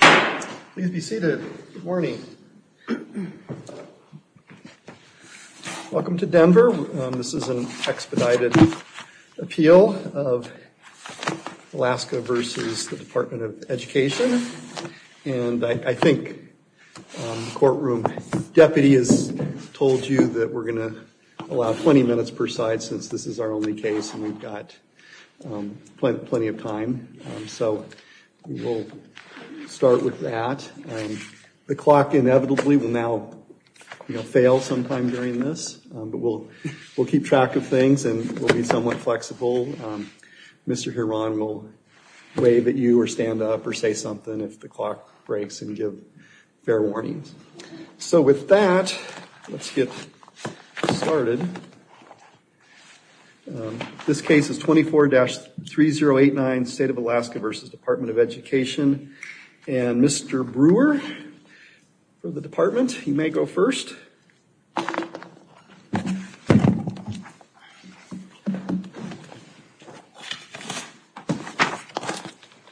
Welcome to Denver. This is an expedited appeal of Alaska v. the Department of Education. And I think the courtroom deputy has told you that we're going to allow 20 minutes per side since this is our only case and we've got plenty of time. So we'll start with that. The clock inevitably will now fail sometime during this, but we'll keep track of things and we'll be somewhat flexible. Mr. Huron will wave at you or stand up or say something if the clock breaks and give fair warnings. So with that, let's get started. This case is 24-3089, State of Alaska v. Department of Education. And Mr. Brewer for the department, you may go first.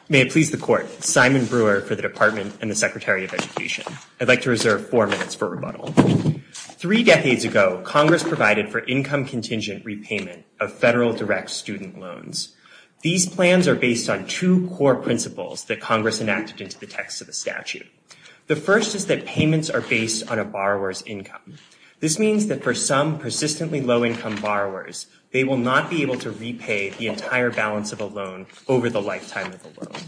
May it please the court, Simon Brewer for the Department and the Secretary of Education. I'd like to reserve four minutes for rebuttal. Three decades ago, Congress provided for income contingent repayment of federal direct student loans. These plans are based on two core principles that Congress enacted into the text of the statute. The first is that payments are based on a borrower's income. This means that for some persistently low-income borrowers, they will not be able to repay the entire balance of a loan over the lifetime of the loan.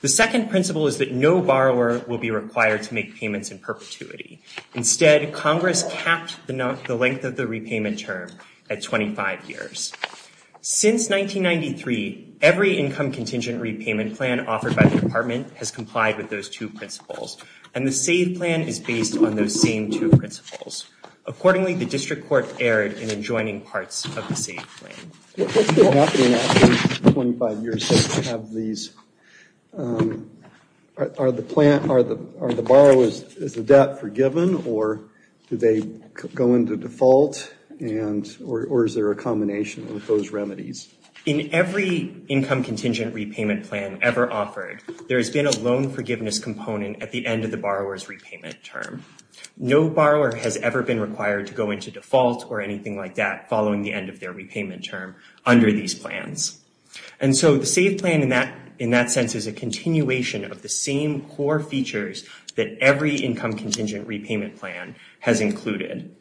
The second principle is that no borrower will be required to make payments in perpetuity. Instead, Congress capped the length of the repayment term at 25 years. Since 1993, every income contingent repayment plan offered by the department has complied with those two principles, and the SAVE plan is based on those same two principles. Accordingly, the report erred in adjoining parts of the SAVE plan. What's been happening after 25 years since we have these? Are the borrowers' debt forgiven, or do they go into default, or is there a combination of those remedies? In every income contingent repayment plan ever offered, there has been a loan forgiveness component at the end of the borrower's repayment term. No borrower has ever been required to go into default or anything like that following the end of their repayment term under these plans. The SAVE plan, in that sense, is a continuation of the same core features that every income contingent repayment plan has included.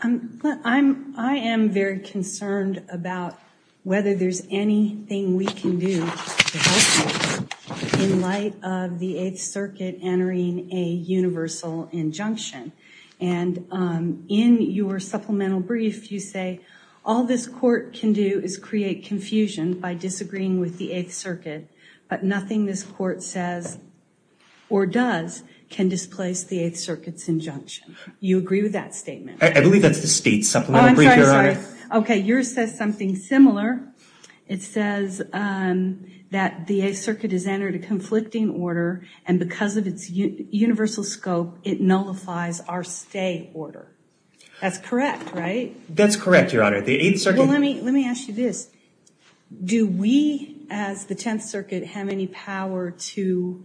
I am very concerned about whether there's anything we can do to help this in light of the Eighth Circuit entering a universal injunction. In your supplemental brief, you say, all this court can do is create confusion by disagreeing with the Eighth Circuit, but nothing this court says or does can displace the Eighth Circuit's injunction. Do you agree with that statement? I believe that's the state's supplemental brief, Your Honor. Yours says something similar. It says that the Eighth Circuit has entered a conflicting order and because of its universal scope, it nullifies our stay order. That's correct, right? That's correct, Your Honor. Well, let me ask you this. Do we, as the Tenth Circuit, have any power to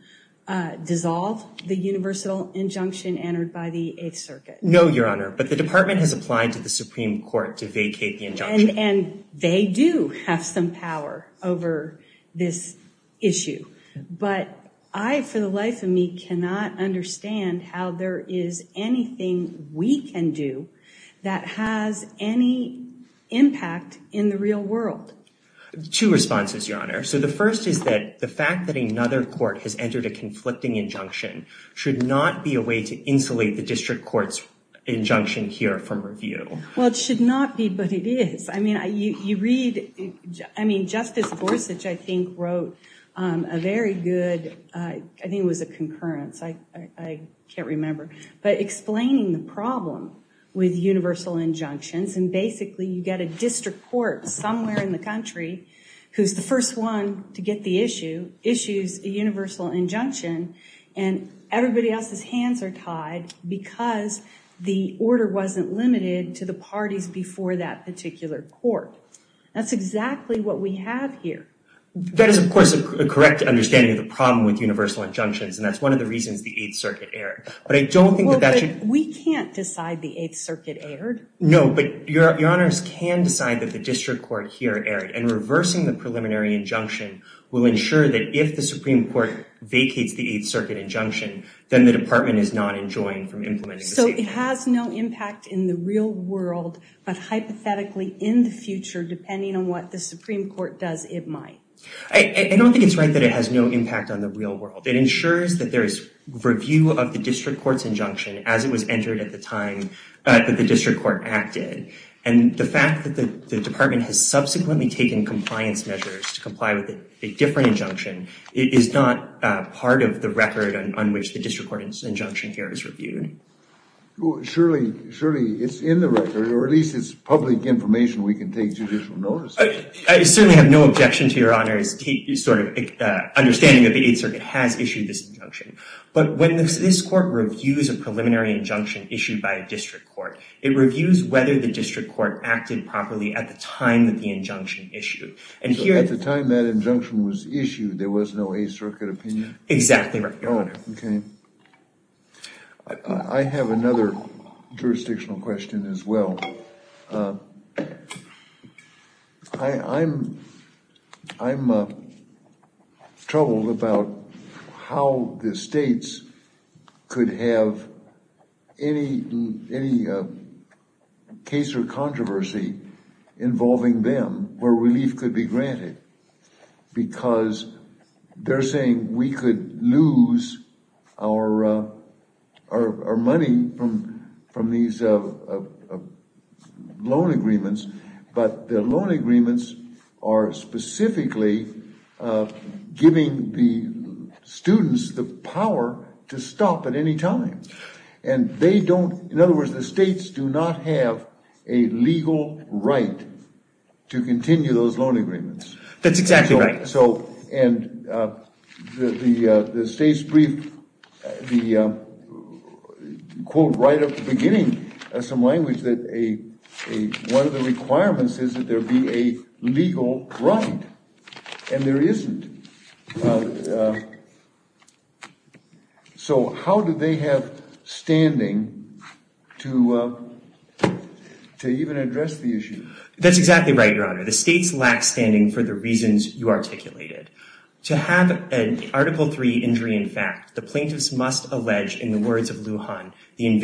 dissolve the universal injunction entered by the Eighth Circuit? No, Your Honor, but the Department has applied to the Supreme Court to vacate the injunction. And they do have some power over this issue, but I, for the life of me, cannot understand how there is anything we can do that has any impact in the real world. Two responses, Your Honor. So the first is that the fact that another court has entered a conflicting injunction should not be a way to insulate the district court's injunction here from review. Well, it should not be, but it is. I mean, you read, I mean, Justice Gorsuch, I think, wrote a very good, I think it was a concurrence, I can't remember, but explaining the problem with universal injunctions. And basically, you get a district court somewhere in the And everybody else's hands are tied because the order wasn't limited to the parties before that particular court. That's exactly what we have here. That is, of course, a correct understanding of the problem with universal injunctions, and that's one of the reasons the Eighth Circuit erred. But I don't think that that should... We can't decide the Eighth Circuit erred. No, but Your Honors can decide that the district court here erred. And reversing the preliminary injunction will ensure that if the Supreme Court vacates the Eighth Circuit injunction, then the department is not enjoined from implementing the statement. So it has no impact in the real world, but hypothetically, in the future, depending on what the Supreme Court does, it might. I don't think it's right that it has no impact on the real world. It ensures that there is review of the district court's injunction as it was entered at the time that the district court acted. And the fact that the department has subsequently taken compliance measures to comply with a different injunction is not part of the record on which the district court's injunction here is reviewed. Surely, it's in the record, or at least it's public information we can take judicial notice of. I certainly have no objection to Your Honors' understanding that the Eighth Circuit has issued this injunction. But when this court reviews a preliminary injunction issued by a district court, it reviews whether the district court acted properly at the time that the injunction issued. So at the time that injunction was issued, there was no Eighth Circuit opinion? Exactly right, Your Honor. I have another jurisdictional question as well. I'm troubled about how the states could have any case or controversy involving them where relief could be granted. Because they're saying we could lose our money from these loan agreements, but the loan agreements are specifically giving the students the power to stop at any time. And they don't, in other words, the states do not have a legal right to continue those loan agreements. That's exactly right. So, and the state's brief, the quote right at the beginning of some language that a, one of the requirements is that there be a legal right. And there isn't. So how do they have standing to even address the issue? That's exactly right, Your Honor. The states lack standing for the reasons you articulated. To have an Article III injury in fact, the plaintiffs must allege, in the words of Lew But the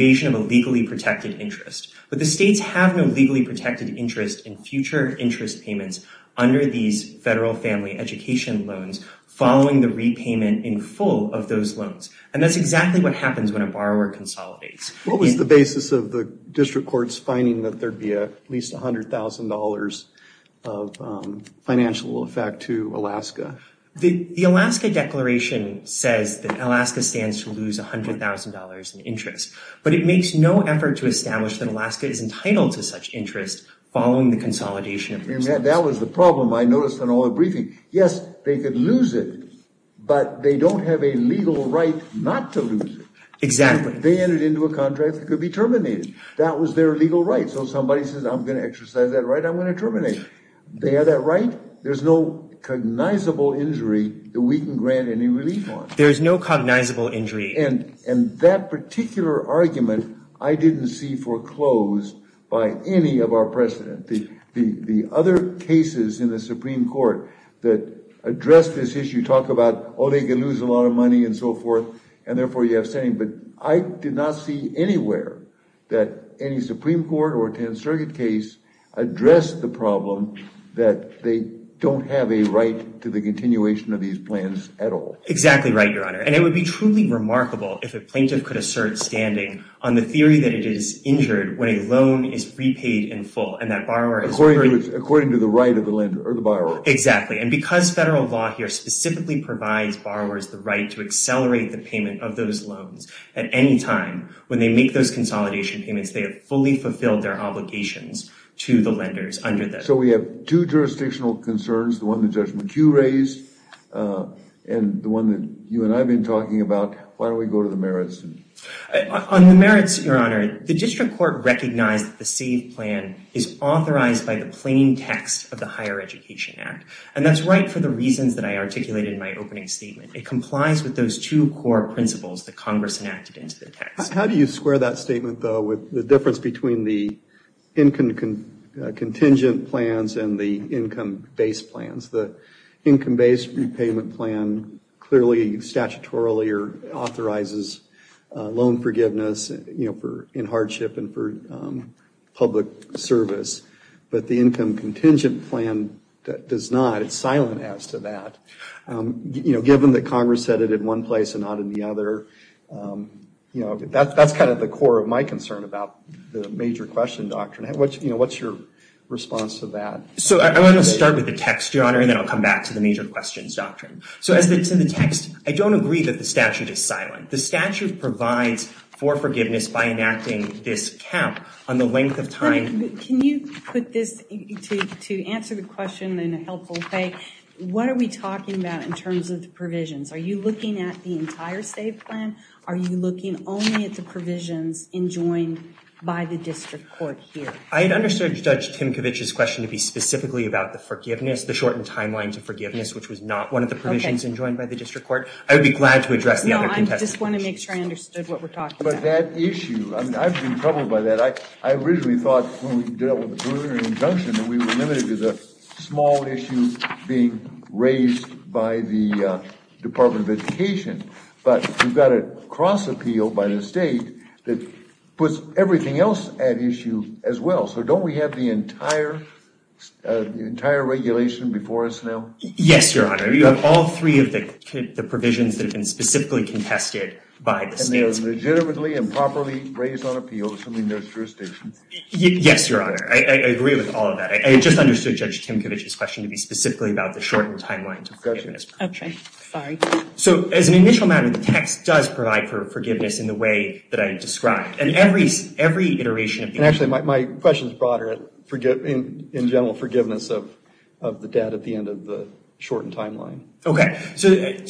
states have no legally protected interest in future interest payments under these federal family education loans following the repayment in full of those loans. And that's exactly what happens when a borrower consolidates. What was the basis of the district courts finding that there'd be at least $100,000 of financial effect to Alaska? The Alaska Declaration says that Alaska stands to lose $100,000 in interest. But it makes no effort to establish that Alaska is entitled to such interest following the consolidation of resources. That was the problem I noticed in all the briefing. Yes, they could lose it, but they don't have a legal right not to lose it. Exactly. They entered into a contract that could be terminated. That was their legal right. So somebody says, I'm going to exercise that right, I'm going to terminate it. They have that right, there's no cognizable injury that we can grant any relief on. There's no cognizable injury. And that particular argument, I didn't see foreclosed by any of our precedent. The other cases in the Supreme Court that address this issue talk about, oh, they could lose a lot of money and so forth, and therefore you have standing. But I did not see anywhere that any Supreme Court or Tenth Circuit case addressed the problem that they don't have a right to the continuation of these plans at all. Exactly right, Your Honor. And it would be truly remarkable if a plaintiff could assert standing on the theory that it is injured when a loan is repaid in full. According to the right of the lender or the borrower. Exactly. And because federal law here specifically provides borrowers the right to accelerate the payment of those loans at any time when they make those consolidation payments, they have fully fulfilled their obligations to the lenders under this. So we have two jurisdictional concerns, the one that Judge McHugh raised, and the one that you and I have been talking about. Why don't we go to the merits? On the merits, Your Honor, the district court recognized that the SAVE plan is authorized by the plain text of the Higher Education Act. And that's right for the reasons that I articulated in my opening statement. It complies with those two core principles that Congress enacted into the text. How do you square that statement, though, with the difference between the income contingent plans and the income-based plans? The income-based repayment plan clearly statutorily authorizes loan forgiveness in hardship and for public service. But the income contingent plan does not. It's silent as to that. Given that Congress said it in one place and not in the other, that's kind of the core of my concern about the major question doctrine. What's your response to that? So I want to start with the text, Your Honor, and then I'll come back to the major questions doctrine. So as to the text, I don't agree that the statute is silent. The statute provides for forgiveness by enacting this cap on the length of time. Your Honor, can you put this, to answer the question in a helpful way, what are we talking about in terms of the provisions? Are you looking at the entire SAVE plan? Are you looking only at the provisions enjoined by the district court here? I had understood Judge Timkovich's question to be specifically about the forgiveness, the shortened timeline to forgiveness, which was not one of the provisions enjoined by the district court. I would be glad to address the other contested questions. No, I just want to make sure I understood what we're talking about. But that issue, I mean, I've been troubled by that. I originally thought when we did it with the preliminary injunction that we were limited to the small issue being raised by the Department of Education. But we've got a cross appeal by the state that puts everything else at issue as well. So don't we have the entire regulation before us now? Yes, Your Honor. You have all three of the provisions that have been specifically contested by the state. And they're legitimately and properly raised on appeal, assuming they're jurisdictions? Yes, Your Honor. I agree with all of that. I had just understood Judge Timkovich's question to be specifically about the shortened timeline to forgiveness. Okay. Sorry. So as an initial matter, the text does provide for forgiveness in the way that I described. And every iteration of the… And actually, my question is broader in general forgiveness of the debt at the end of the shortened timeline. Okay. So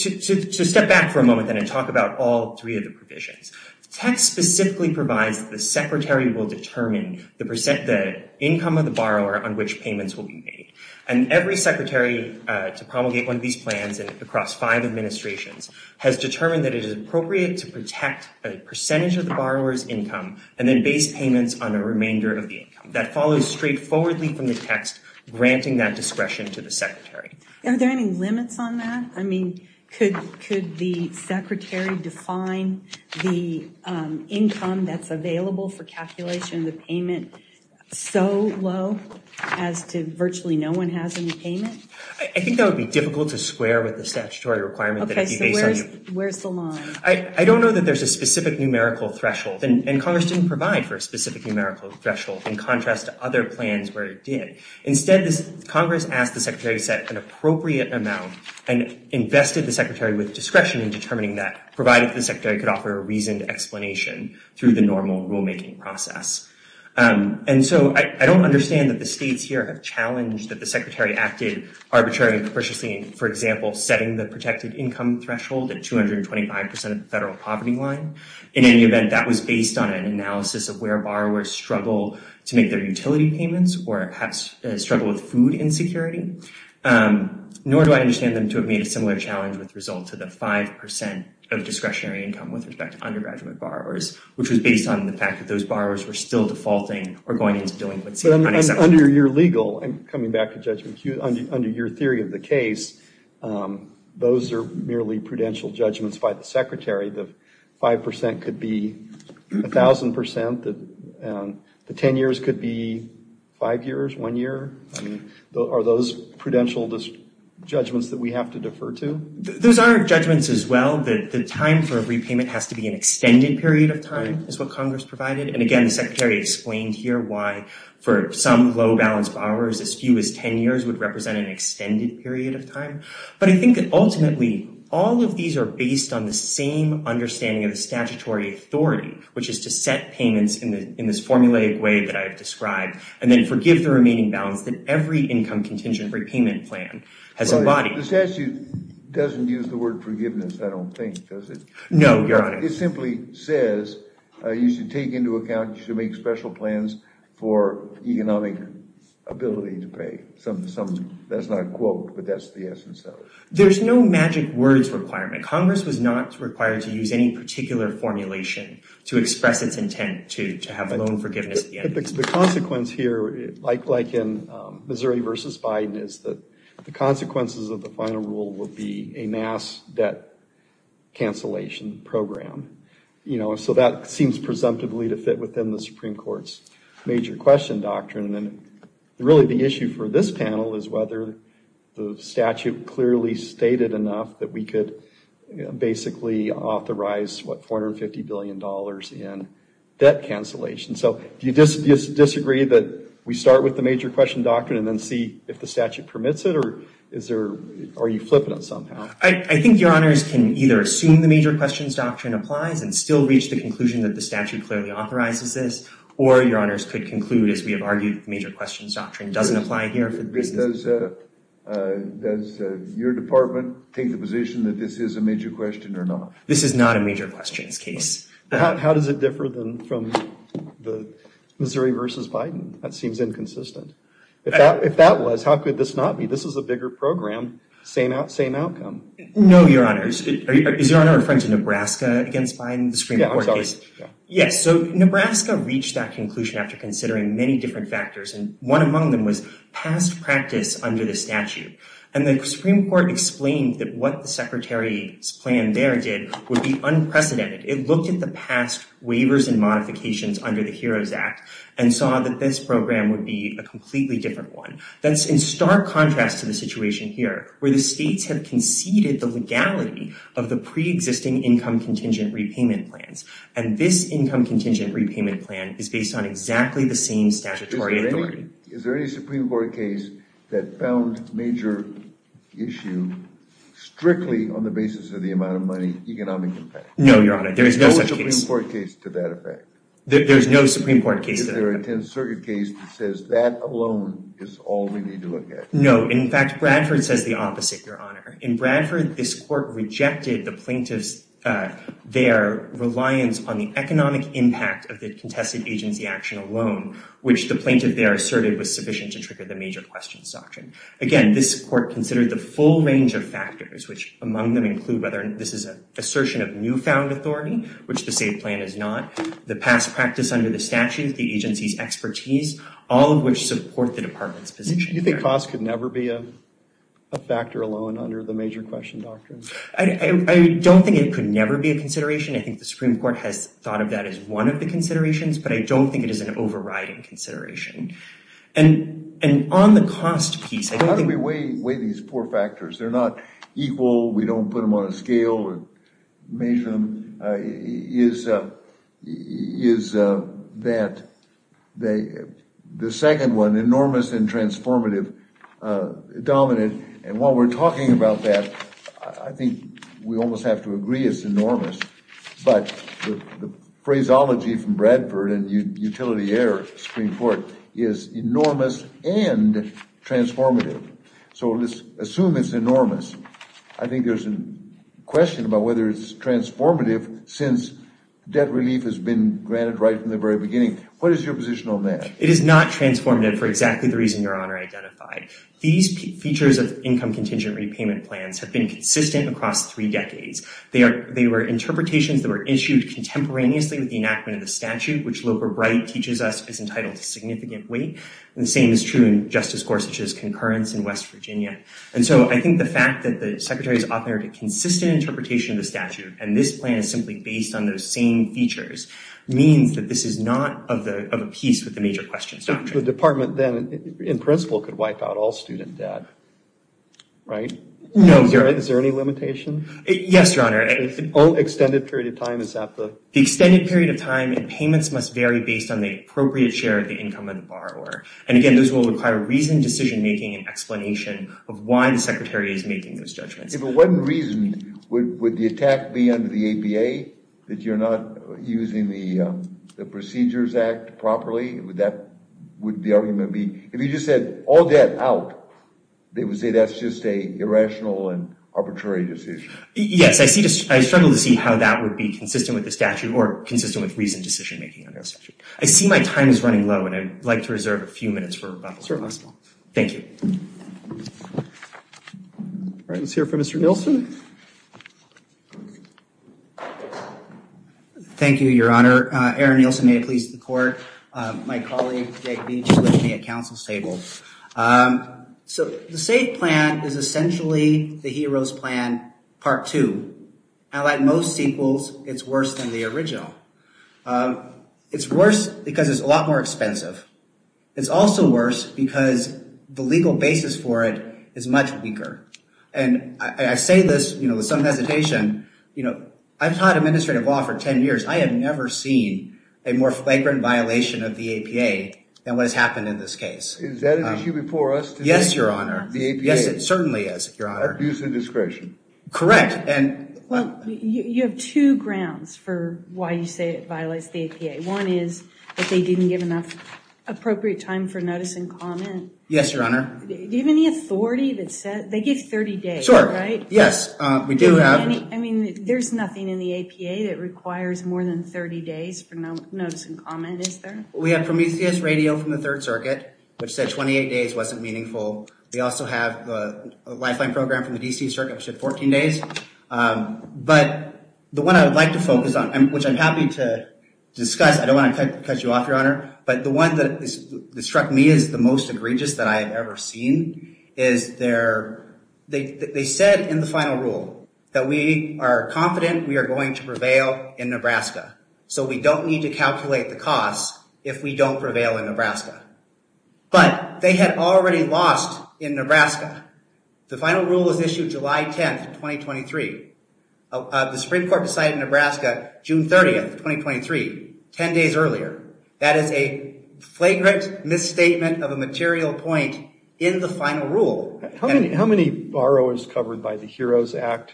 step back for a moment then and talk about all three of the provisions. The text specifically provides the secretary will determine the income of the borrower on which payments will be made. And every secretary to promulgate one of these plans across five administrations has determined that it is appropriate to protect a percentage of the borrower's income and then base payments on the remainder of the income. That follows straightforwardly from the text granting that discretion to the secretary. Are there any limits on that? I mean, could the secretary define the income that's available for calculation of the payment so low as to virtually no one has any payment? I think that would be difficult to square with the statutory requirement that it be based on… Okay. So where's the line? I don't know that there's a specific numerical threshold. And Congress didn't provide for a specific numerical threshold in contrast to other plans where it did. Instead, Congress asked the secretary to set an appropriate amount and invested the secretary with discretion in determining that, provided the secretary could offer a reasoned explanation through the normal rulemaking process. And so I don't understand that the states here have challenged that the secretary acted arbitrarily and capriciously, for example, setting the protected income threshold at 225% of the federal poverty line. In any event, that was based on an analysis of where borrowers struggle to make their utility payments or perhaps struggle with food insecurity. Nor do I understand them to have made a similar challenge with result to the 5% of discretionary income with respect to undergraduate borrowers, which was based on the fact that those borrowers were still defaulting or going into dealing with… Under your legal, and coming back to Judgment Q, under your theory of the case, those are merely prudential judgments by the secretary. The 5% could be 1,000%. The 10 years could be 5 years, 1 year. Are those prudential judgments that we have to defer to? Those are judgments as well. The time for a repayment has to be an extended period of time, is what Congress provided. And again, the secretary explained here why for some low-balanced borrowers, as few as 10 years would represent an extended period of time. But I think that ultimately, all of these are based on the same understanding of the statutory authority, which is to set payments in this formulaic way that I have described, and then forgive the remaining balance that every income contingent repayment plan has embodied. The statute doesn't use the word forgiveness, I don't think, does it? No, Your Honor. It simply says you should take into account, you should make special plans for economic ability to pay. That's not a quote, but that's the essence of it. There's no magic words requirement. Congress was not required to use any particular formulation to express its intent to have loan forgiveness at the end of the year. The consequence here, like in Missouri v. Biden, is that the consequences of the final rule would be a mass debt cancellation program. So that seems presumptively to fit within the Supreme Court's major question doctrine. Really, the issue for this panel is whether the statute clearly stated enough that we could basically authorize $450 billion in debt cancellation. So do you disagree that we start with the major question doctrine and then see if the statute permits it, or are you flipping it somehow? I think Your Honors can either assume the major questions doctrine applies and still reach the conclusion that the statute clearly authorizes this, or Your Honors could conclude, as we have argued, the major questions doctrine doesn't apply here. Does your department take the position that this is a major question or not? This is not a major questions case. How does it differ from Missouri v. Biden? That seems inconsistent. If that was, how could this not be? This is a bigger program, same outcome. No, Your Honors. Is Your Honor referring to Nebraska against Biden, the Supreme Court case? Yes. So Nebraska reached that conclusion after considering many different factors, and one among them was past practice under the statute. And the Supreme Court explained that what the Secretary's plan there did would be unprecedented. It looked at the past waivers and modifications under the HEROES Act and saw that this program would be a completely different one. That's in stark contrast to the situation here, where the states have conceded the legality of the pre-existing income contingent repayment plans. And this income contingent repayment plan is based on exactly the same statutory authority. Is there any Supreme Court case that found major issue strictly on the basis of the amount of money economic impact? No, Your Honor. There is no such case. No Supreme Court case to that effect? There is no Supreme Court case to that effect. Is there a 10th Circuit case that says that alone is all we need to look at? No. In fact, Bradford says the opposite, Your Honor. In Bradford, this court rejected the plaintiffs' reliance on the economic impact of the contested agency action alone, which the plaintiff there asserted was sufficient to trigger the major questions doctrine. Again, this court considered the full range of factors, which among them include whether this is an assertion of newfound authority, which the state plan is not, the past practice under the statute, the agency's expertise, all of which support the Department's position. Do you think cost could never be a factor alone under the major question doctrine? I don't think it could never be a consideration. I think the Supreme Court has thought of that as one of the considerations, but I don't think it is an overriding consideration. And on the cost piece, I don't think— How do we weigh these four factors? They're not equal. We don't put them on a scale and measure them. One is that the second one, enormous and transformative, dominant. And while we're talking about that, I think we almost have to agree it's enormous. But the phraseology from Bradford and Utility Air Supreme Court is enormous and transformative. So let's assume it's enormous. I think there's a question about whether it's transformative since debt relief has been granted right from the very beginning. What is your position on that? It is not transformative for exactly the reason Your Honor identified. These features of income contingent repayment plans have been consistent across three decades. They were interpretations that were issued contemporaneously with the enactment of the statute, which Loper Wright teaches us is entitled to significant weight. The same is true in Justice Gorsuch's concurrence in West Virginia. And so I think the fact that the Secretary has offered a consistent interpretation of the statute, and this plan is simply based on those same features, means that this is not of a piece with the major questions. So the department then, in principle, could wipe out all student debt, right? No. Is there any limitation? Yes, Your Honor. An extended period of time? The extended period of time and payments must vary based on the appropriate share of the income of the borrower. And, again, those will require reasoned decision-making and explanation of why the Secretary is making those judgments. If it wasn't reasoned, would the attack be under the APA that you're not using the Procedures Act properly? Would the argument be if you just said all debt out, they would say that's just an irrational and arbitrary decision? Yes. I struggle to see how that would be consistent with the statute or consistent with reasoned decision-making under the statute. I see my time is running low, and I'd like to reserve a few minutes for rebuttal. Certainly. Thank you. All right, let's hear from Mr. Nielsen. Thank you, Your Honor. Aaron Nielsen, may it please the Court. My colleague, Jake Beach, is with me at counsel's table. So the SAFE plan is essentially the HEROES plan, Part 2. Now, like most sequels, it's worse than the original. It's worse because it's a lot more expensive. It's also worse because the legal basis for it is much weaker. And I say this with some hesitation. I've taught administrative law for 10 years. I have never seen a more flagrant violation of the APA than what has happened in this case. Is that an issue before us today? Yes, Your Honor. The APA. Yes, it certainly is, Your Honor. Abuse of discretion. Correct. You have two grounds for why you say it violates the APA. One is that they didn't give enough appropriate time for notice and comment. Yes, Your Honor. Do you have any authority that said they give 30 days, right? Yes, we do have. I mean, there's nothing in the APA that requires more than 30 days for notice and comment, is there? We have Prometheus Radio from the Third Circuit, which said 28 days wasn't meaningful. We also have the Lifeline Program from the D.C. Circuit, which said 14 days. But the one I would like to focus on, which I'm happy to discuss. I don't want to cut you off, Your Honor. But the one that struck me as the most egregious that I have ever seen is they said in the final rule that we are confident we are going to prevail in Nebraska. So we don't need to calculate the costs if we don't prevail in Nebraska. But they had already lost in Nebraska. The final rule was issued July 10, 2023. The Supreme Court decided in Nebraska June 30, 2023, 10 days earlier. That is a flagrant misstatement of a material point in the final rule. How many borrowers covered by the HEROES Act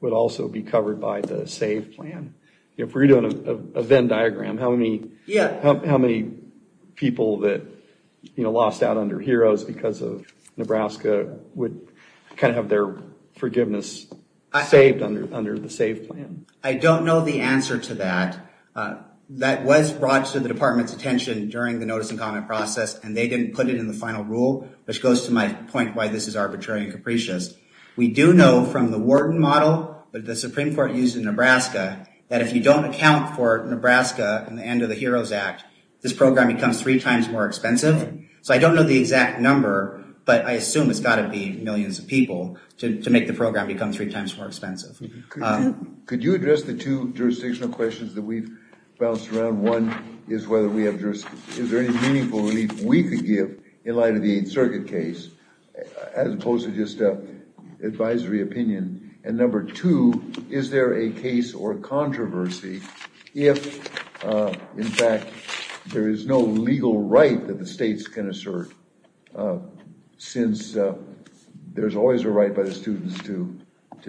would also be covered by the SAVE plan? If we were doing a Venn diagram, how many people that lost out under HEROES because of Nebraska would kind of have their forgiveness saved under the SAVE plan? I don't know the answer to that. That was brought to the Department's attention during the notice and comment process, and they didn't put it in the final rule, which goes to my point why this is arbitrary and capricious. We do know from the Wharton model that the Supreme Court used in Nebraska that if you don't account for Nebraska in the end of the HEROES Act, this program becomes three times more expensive. So I don't know the exact number, but I assume it's got to be millions of people to make the program become three times more expensive. Could you address the two jurisdictional questions that we've bounced around? One is whether we have jurisdiction. Is there any meaningful relief we could give in light of the Eighth Circuit case as opposed to just advisory opinion? And number two, is there a case or controversy if, in fact, there is no legal right that the states can assert since there's always a right by the students to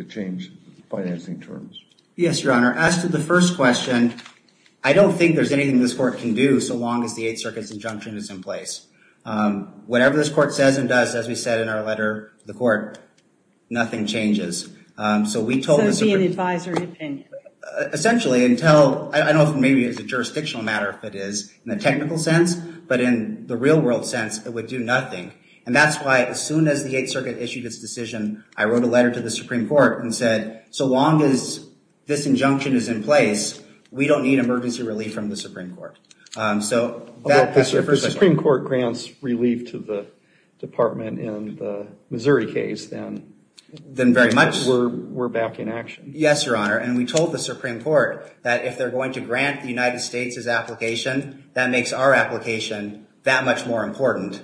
change financing terms? Yes, Your Honor. As to the first question, I don't think there's anything this court can do so long as the Eighth Circuit's injunction is in place. Whatever this court says and does, as we said in our letter to the court, nothing changes. So it would be an advisory opinion? Essentially. I don't know if maybe it's a jurisdictional matter if it is in the technical sense, but in the real-world sense, it would do nothing. And that's why as soon as the Eighth Circuit issued its decision, I wrote a letter to the Supreme Court and said, so long as this injunction is in place, we don't need emergency relief from the Supreme Court. If the Supreme Court grants relief to the department in the Missouri case, then we're back in action. Yes, Your Honor. And we told the Supreme Court that if they're going to grant the United States its application, that makes our application that much more important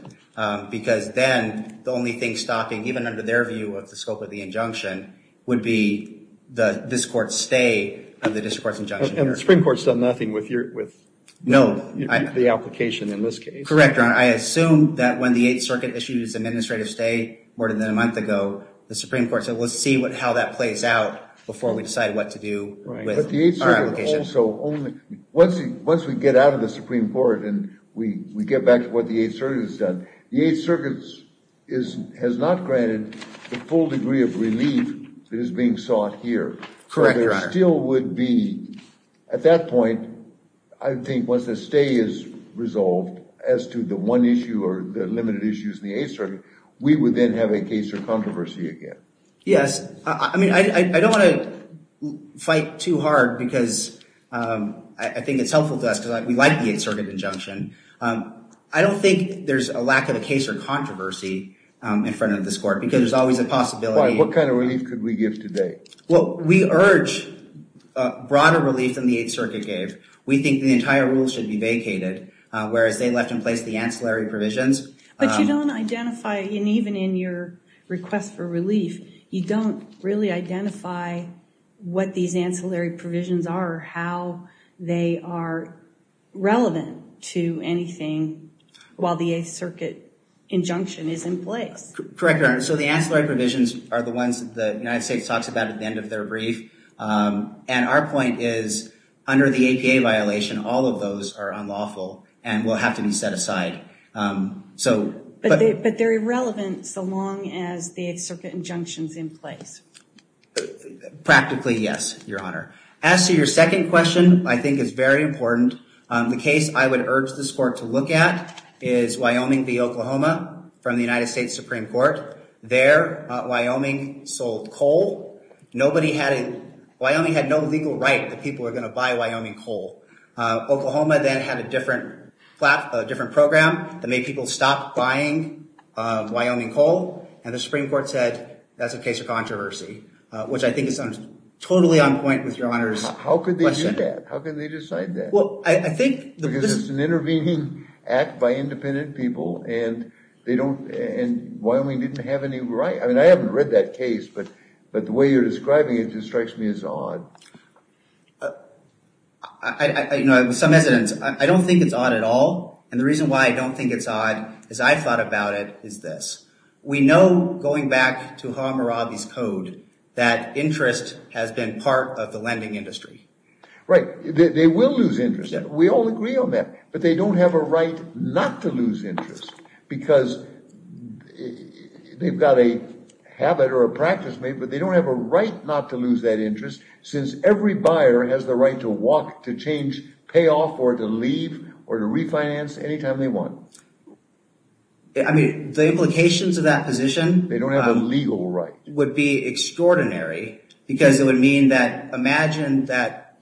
because then the only thing stopping, even under their view of the scope of the injunction, would be this court's stay on the district court's injunction. And the Supreme Court's done nothing with the application in this case? Correct, Your Honor. I assume that when the Eighth Circuit issued its administrative stay more than a month ago, the Supreme Court said, let's see how that plays out before we decide what to do with our application. But the Eighth Circuit also only – once we get out of the Supreme Court and we get back to what the Eighth Circuit has done, the Eighth Circuit has not granted the full degree of relief that is being sought here. Correct, Your Honor. It still would be, at that point, I think once the stay is resolved as to the one issue or the limited issues in the Eighth Circuit, we would then have a case or controversy again. Yes. I mean, I don't want to fight too hard because I think it's helpful to us because we like the Eighth Circuit injunction. I don't think there's a lack of a case or controversy in front of this court because there's always a possibility. What kind of relief could we give today? Well, we urge broader relief than the Eighth Circuit gave. We think the entire rule should be vacated, whereas they left in place the ancillary provisions. But you don't identify – and even in your request for relief, you don't really identify what these ancillary provisions are, how they are relevant to anything while the Eighth Circuit injunction is in place. Correct, Your Honor. So the ancillary provisions are the ones that the United States talks about at the end of their brief. And our point is, under the APA violation, all of those are unlawful and will have to be set aside. But they're irrelevant so long as the Eighth Circuit injunction is in place. Practically, yes, Your Honor. As to your second question, I think it's very important. The case I would urge this court to look at is Wyoming v. Oklahoma from the United States Supreme Court. There, Wyoming sold coal. Nobody had – Wyoming had no legal right that people were going to buy Wyoming coal. Oklahoma then had a different program that made people stop buying Wyoming coal, and the Supreme Court said that's a case of controversy, which I think is totally on point with Your Honor's question. How could they do that? How could they decide that? Well, I think – Because it's an intervening act by independent people, and they don't – and Wyoming didn't have any right. I mean, I haven't read that case, but the way you're describing it just strikes me as odd. You know, with some evidence, I don't think it's odd at all, and the reason why I don't think it's odd is I thought about it as this. We know, going back to Hammurabi's code, that interest has been part of the lending industry. Right. They will lose interest. We all agree on that, but they don't have a right not to lose interest because they've got a habit or a practice made, but they don't have a right not to lose that interest since every buyer has the right to walk, to change, pay off, or to leave or to refinance anytime they want. I mean, the implications of that position – They don't have a legal right. Would be extraordinary because it would mean that – Imagine that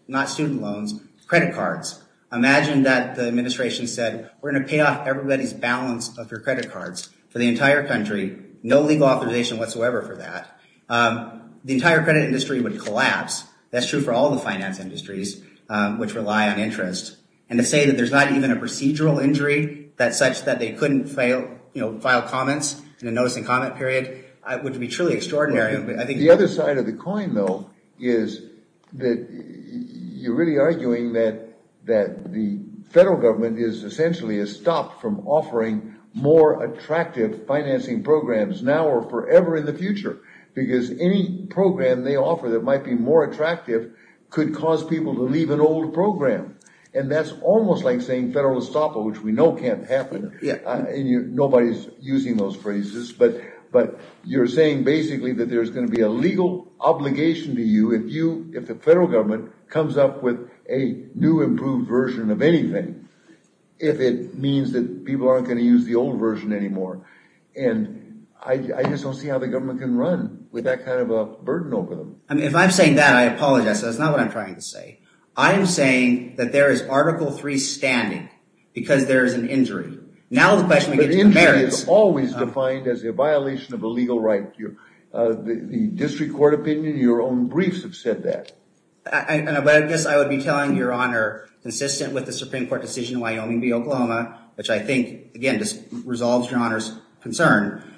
the administration said, we're going to pay off everybody's balance of their credit cards for the entire country, no legal authorization whatsoever for that. The entire credit industry would collapse. That's true for all the finance industries which rely on interest, and to say that there's not even a procedural injury that's such that they couldn't file comments in a notice and comment period would be truly extraordinary. The other side of the coin, though, is that you're really arguing that the federal government is essentially stopped from offering more attractive financing programs now or forever in the future because any program they offer that might be more attractive could cause people to leave an old program, and that's almost like saying federal estoppel, which we know can't happen. Nobody's using those phrases, but you're saying basically that there's going to be a legal obligation to you if the federal government comes up with a new, improved version of anything if it means that people aren't going to use the old version anymore, and I just don't see how the government can run with that kind of a burden over them. If I'm saying that, I apologize. That's not what I'm trying to say. I am saying that there is Article III standing because there is an injury. Now the question we get to merits – the district court opinion, your own briefs have said that. I guess I would be telling your Honor, consistent with the Supreme Court decision in Wyoming v. Oklahoma, which I think, again, just resolves your Honor's concern,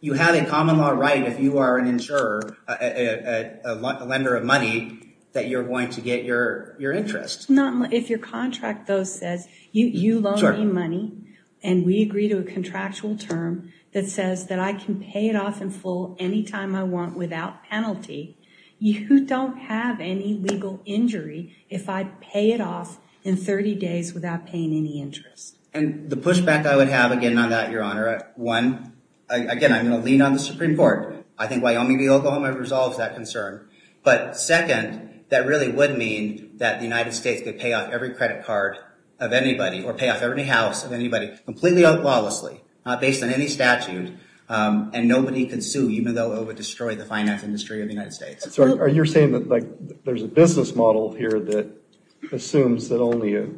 you have a common law right if you are an insurer, a lender of money, that you're going to get your interest. If your contract, though, says you loan me money and we agree to a contractual term that says that I can pay it off in full any time I want without penalty, you don't have any legal injury if I pay it off in 30 days without paying any interest. And the pushback I would have, again, on that, your Honor, one, again, I'm going to lean on the Supreme Court. I think Wyoming v. Oklahoma resolves that concern. But second, that really would mean that the United States could pay off every credit card of anybody or pay off every house of anybody completely lawlessly, based on any statute, and nobody could sue, even though it would destroy the finance industry of the United States. So are you saying that there's a business model here that assumes that only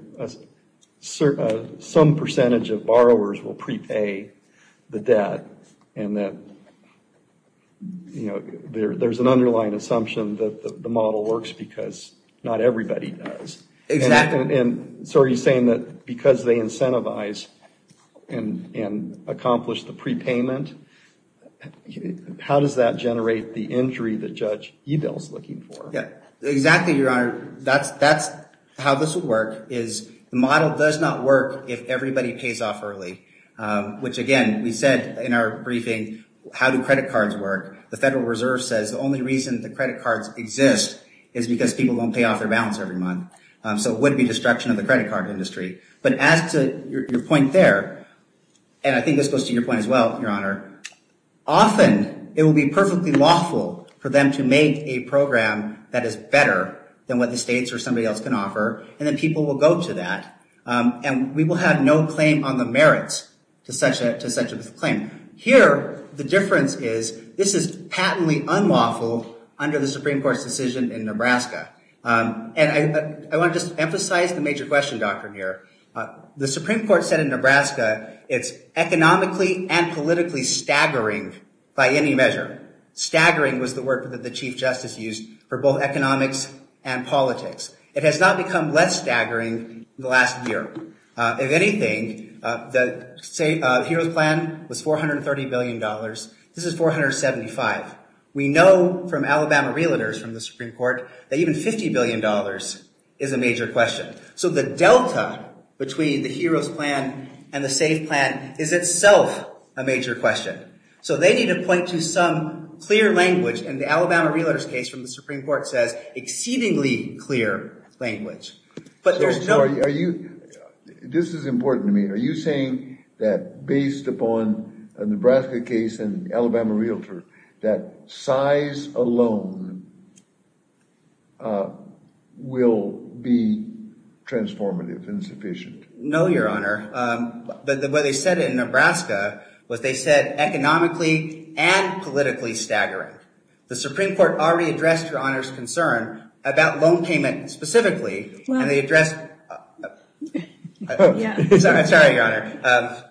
some percentage of borrowers will prepay the debt, and that there's an underlying assumption that the model works because not everybody does? Exactly. And so are you saying that because they incentivize and accomplish the prepayment, how does that generate the injury that Judge Edel is looking for? Exactly, your Honor, that's how this would work, is the model does not work if everybody pays off early, which, again, we said in our briefing, how do credit cards work? The Federal Reserve says the only reason the credit cards exist is because people don't pay off their balance every month. So it would be destruction of the credit card industry. But as to your point there, and I think this goes to your point as well, your Honor, often it will be perfectly lawful for them to make a program that is better than what the states or somebody else can offer, and then people will go to that, and we will have no claim on the merits to such a claim. Here, the difference is this is patently unlawful under the Supreme Court's decision in Nebraska. And I want to just emphasize the major question doctrine here. The Supreme Court said in Nebraska it's economically and politically staggering by any measure. Staggering was the word that the Chief Justice used for both economics and politics. It has not become less staggering in the last year. If anything, the HEROES Plan was $430 billion. This is $475 billion. We know from Alabama realtors from the Supreme Court that even $50 billion is a major question. So the delta between the HEROES Plan and the SAVE Plan is itself a major question. So they need to point to some clear language, and the Alabama realtors case from the Supreme Court says exceedingly clear language. But there's no... This is important to me. Are you saying that based upon the Nebraska case and Alabama realtor that size alone will be transformative and sufficient? No, Your Honor. But what they said in Nebraska was they said economically and politically staggering. The Supreme Court already addressed Your Honor's concern about loan payment specifically, and they addressed... Sorry, Your Honor.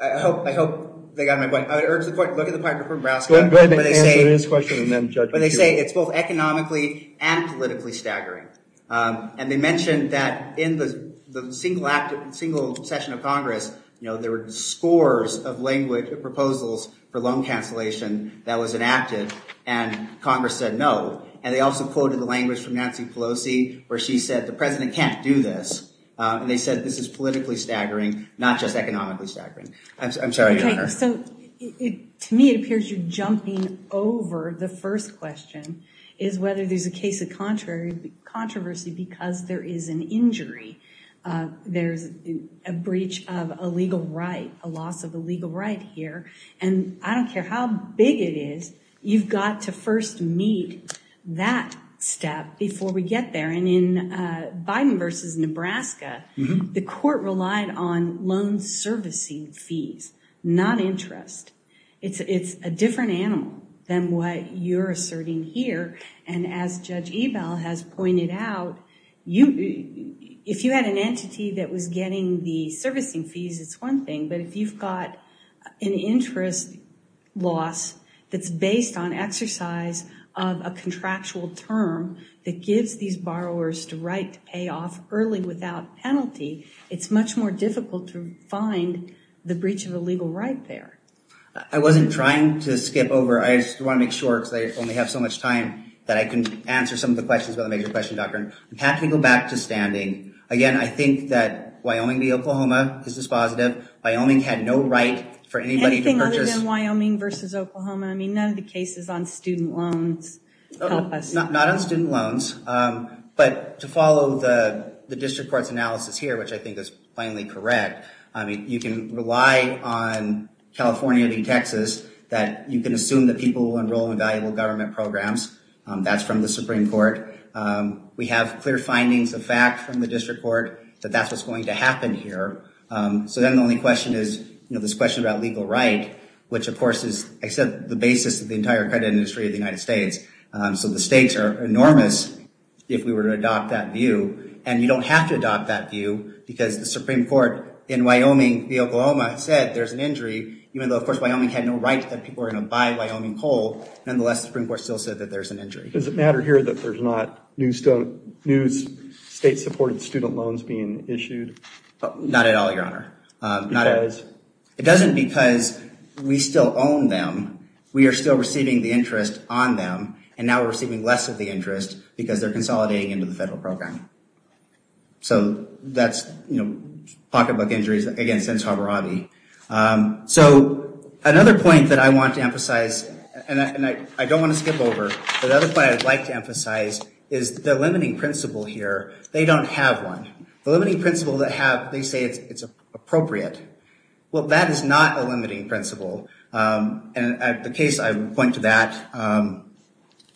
I hope they got my point. I urge the court to look at the paragraph from Nebraska. Go ahead and answer his question and then judge me. But they say it's both economically and politically staggering. And they mentioned that in the single session of Congress, you know, there were scores of language proposals for loan cancellation that was enacted, and Congress said no. And they also quoted the language from Nancy Pelosi where she said the president can't do this. And they said this is politically staggering, not just economically staggering. I'm sorry, Your Honor. Okay, so to me it appears you're jumping over the first question is whether there's a case of controversy because there is an injury. There's a breach of a legal right, a loss of a legal right here. And I don't care how big it is, you've got to first meet that step before we get there. And in Biden versus Nebraska, the court relied on loan servicing fees, not interest. It's a different animal than what you're asserting here. And as Judge Ebell has pointed out, if you had an entity that was getting the servicing fees, it's one thing. But if you've got an interest loss that's based on exercise of a contractual term that gives these borrowers the right to pay off early without penalty, it's much more difficult to find the breach of a legal right there. I wasn't trying to skip over. I just want to make sure because I only have so much time that I can answer some of the questions about the Major Question Doctrine. Pat, can we go back to standing? Again, I think that Wyoming v. Oklahoma is dispositive. Wyoming had no right for anybody to purchase. Anything other than Wyoming versus Oklahoma. I mean, none of the cases on student loans help us. Not on student loans. But to follow the district court's analysis here, which I think is plainly correct, you can rely on California v. Texas that you can assume that people will enroll in valuable government programs. That's from the Supreme Court. We have clear findings of fact from the district court that that's what's going to happen here. So then the only question is this question about legal right, which of course is, I said, the basis of the entire credit industry of the United States. So the stakes are enormous if we were to adopt that view. And you don't have to adopt that view because the Supreme Court in Wyoming v. Oklahoma said there's an injury, even though of course Wyoming had no right that people were gonna buy Wyoming coal. Nonetheless, the Supreme Court still said that there's an injury. Does it matter here that there's not new state-supported student loans being issued? Not at all, Your Honor. Because? It doesn't because we still own them. We are still receiving the interest on them. And now we're receiving less of the interest because they're consolidating into the federal program. So that's, you know, pocketbook injuries against Ensar Berati. So another point that I want to emphasize, and I don't want to skip over, but the other point I'd like to emphasize is the limiting principle here. They don't have one. The limiting principle they have, they say it's appropriate. Well, that is not a limiting principle. And the case I would point to that,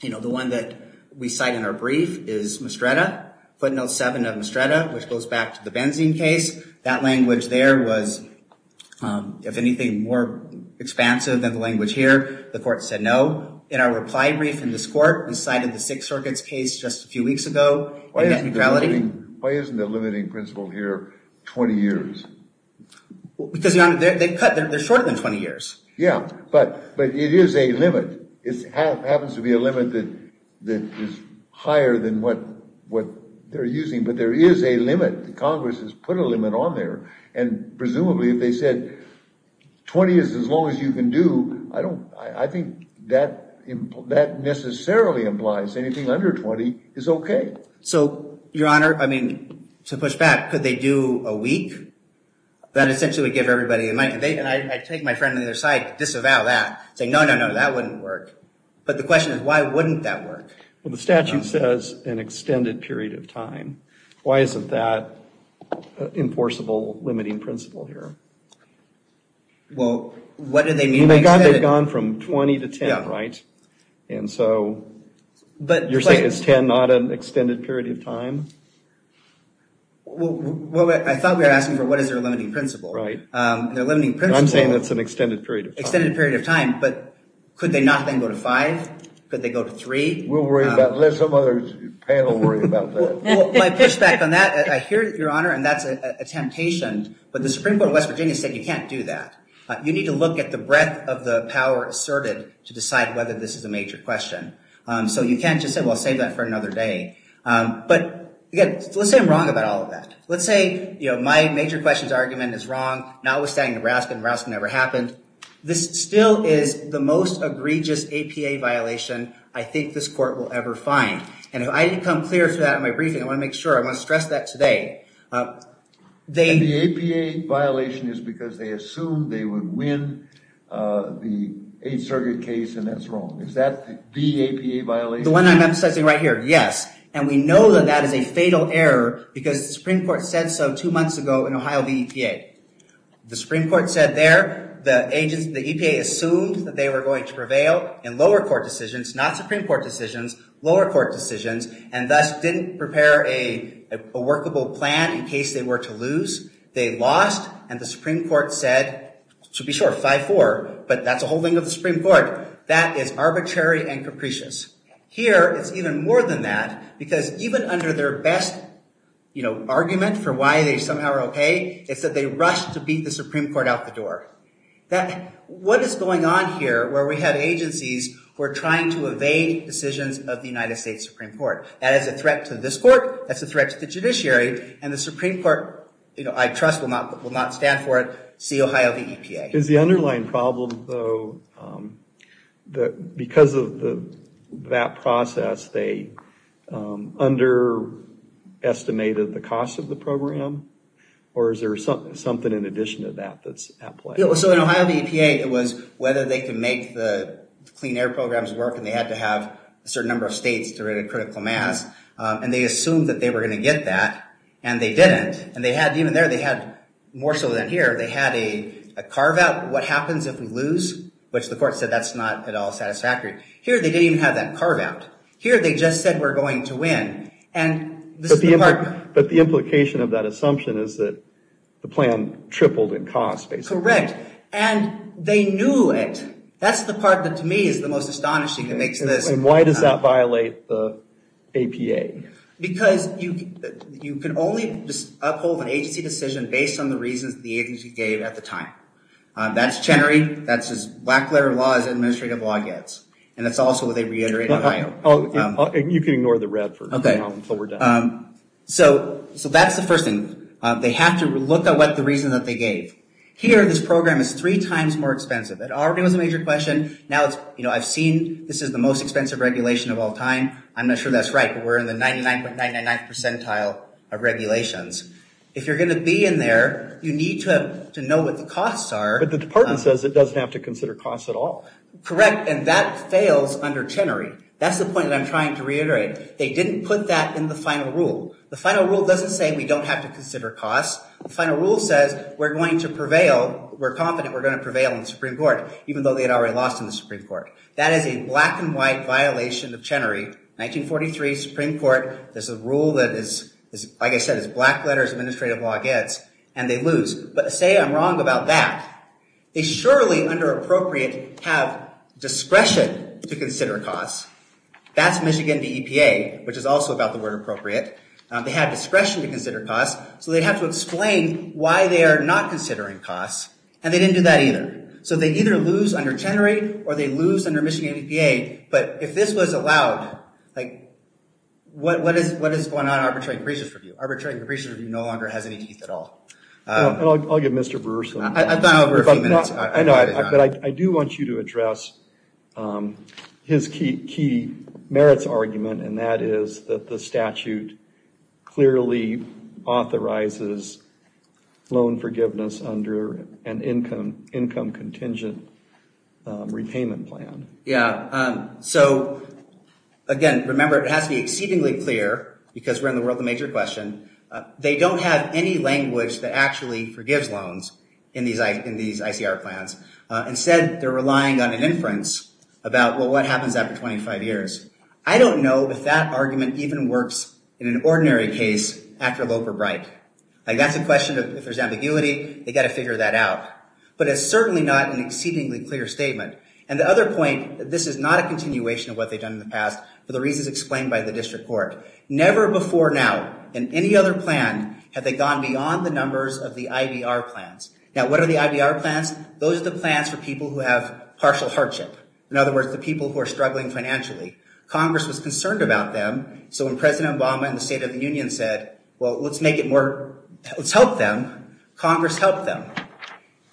you know, the one that we cite in our brief is Mastretta, footnote seven of Mastretta, which goes back to the benzene case. That language there was, if anything, more expansive than the language here. The court said no. In our reply brief in this court, we cited the Sixth Circuit's case just a few weeks ago in net neutrality. Why isn't the limiting principle here 20 years? Because, Your Honor, they cut. They're shorter than 20 years. Yeah, but it is a limit. It happens to be a limit that is higher than what they're using. But there is a limit. Congress has put a limit on there. And presumably, if they said 20 is as long as you can do, I think that necessarily implies anything under 20 is okay. So, Your Honor, I mean, to push back, what could they do a week? That essentially would give everybody, and I take my friend on the other side, disavow that. Say, no, no, no, that wouldn't work. But the question is, why wouldn't that work? Well, the statute says an extended period of time. Why isn't that an enforceable limiting principle here? Well, what do they mean by extended? They've gone from 20 to 10, right? And so, you're saying it's 10, but not an extended period of time? Well, I thought we were asking for what is their limiting principle. Their limiting principle... I'm saying it's an extended period of time. Extended period of time, but could they not then go to five? Could they go to three? We'll worry about that. Let some other panel worry about that. My pushback on that, I hear it, Your Honor, and that's a temptation, but the Supreme Court of West Virginia said you can't do that. You need to look at the breadth of the power asserted to decide whether this is a major question. So, you can't just say, well, save that for another day. But, again, let's say I'm wrong about all of that. Let's say my major questions argument is wrong, notwithstanding Nebraska. Nebraska never happened. This still is the most egregious APA violation I think this court will ever find, and I didn't come clear to that in my briefing. I want to make sure. I want to stress that today. The APA violation is because they assumed they would win the Eighth Circuit case, and that's wrong. Is that the APA violation? The one I'm emphasizing right here, yes, and we know that that is a fatal error because the Supreme Court said so two months ago in Ohio v. EPA. The Supreme Court said there the EPA assumed that they were going to prevail in lower court decisions, not Supreme Court decisions, lower court decisions, and thus didn't prepare a workable plan in case they were to lose. They lost, and the Supreme Court said, to be sure, 5-4, but that's a holding of the Supreme Court. That is arbitrary and capricious. Here, it's even more than that because even under their best argument for why they somehow are okay, it's that they rushed to beat the Supreme Court out the door. What is going on here where we have agencies who are trying to evade decisions of the United States Supreme Court? That is a threat to this court. That's a threat to the judiciary, and the Supreme Court, I trust, will not stand for it. See Ohio v. EPA. Is the underlying problem, though, that because of that process, they underestimated the cost of the program, or is there something in addition to that that's at play? So in Ohio v. EPA, it was whether they could make the clean air programs work, and they had to have a certain number of states to rate a critical mass, and they assumed that they were going to get that, and they didn't, and even there they had, more so than here, they had a carve-out, what happens if we lose, which the court said that's not at all satisfactory. Here they didn't even have that carve-out. Here they just said we're going to win, and this is the part... But the implication of that assumption is that the plan tripled in cost, basically. Correct. And they knew it. That's the part that, to me, is the most astonishing. It makes this... And why does that violate the APA? Because you can only uphold an agency decision based on the reasons the agency gave at the time. That's Chenery. That's as black-letter law as administrative law gets, and that's also what they reiterate in Ohio. You can ignore the red for now until we're done. So that's the first thing. They have to look at what the reason that they gave. Here this program is three times more expensive. It already was a major question. Now I've seen this is the most expensive regulation of all time. I'm not sure that's right, but we're in the 99.999th percentile of regulations. If you're going to be in there, you need to know what the costs are. But the department says it doesn't have to consider costs at all. Correct, and that fails under Chenery. That's the point that I'm trying to reiterate. They didn't put that in the final rule. The final rule doesn't say we don't have to consider costs. The final rule says we're going to prevail. We're confident we're going to prevail in the Supreme Court, even though they had already lost in the Supreme Court. That is a black-and-white violation of Chenery. 1943, Supreme Court. There's a rule that, like I said, is black letters, administrative law gets, and they lose. But say I'm wrong about that. They surely, under appropriate, have discretion to consider costs. That's Michigan DEPA, which is also about the word appropriate. They had discretion to consider costs, so they'd have to explain why they are not considering costs, and they didn't do that either. So they either lose under Chenery, or they lose under Michigan DEPA. But if this was allowed, what is going on in arbitration review? Arbitration review no longer has any teeth at all. I'll give Mr. Brewer some time. I've gone over a few minutes. I know, but I do want you to address his key merits argument, and that is that the statute clearly authorizes loan forgiveness under an income-contingent repayment plan. Yeah, so again, remember, it has to be exceedingly clear, because we're in the world of the major question. They don't have any language that actually forgives loans in these ICR plans. Instead, they're relying on an inference about, well, what happens after 25 years? I don't know if that argument even works in an ordinary case after Loeb or Bright. That's a question of, if there's ambiguity, they've got to figure that out. But it's certainly not an exceedingly clear statement. And the other point, this is not a continuation of what they've done in the past, but the reason is explained by the district court. Never before now in any other plan have they gone beyond the numbers of the IBR plans. Now, what are the IBR plans? Those are the plans for people who have partial hardship, in other words, the people who are struggling financially. Congress was concerned about them, so when President Obama and the State of the Union said, well, let's make it more, let's help them, Congress helped them.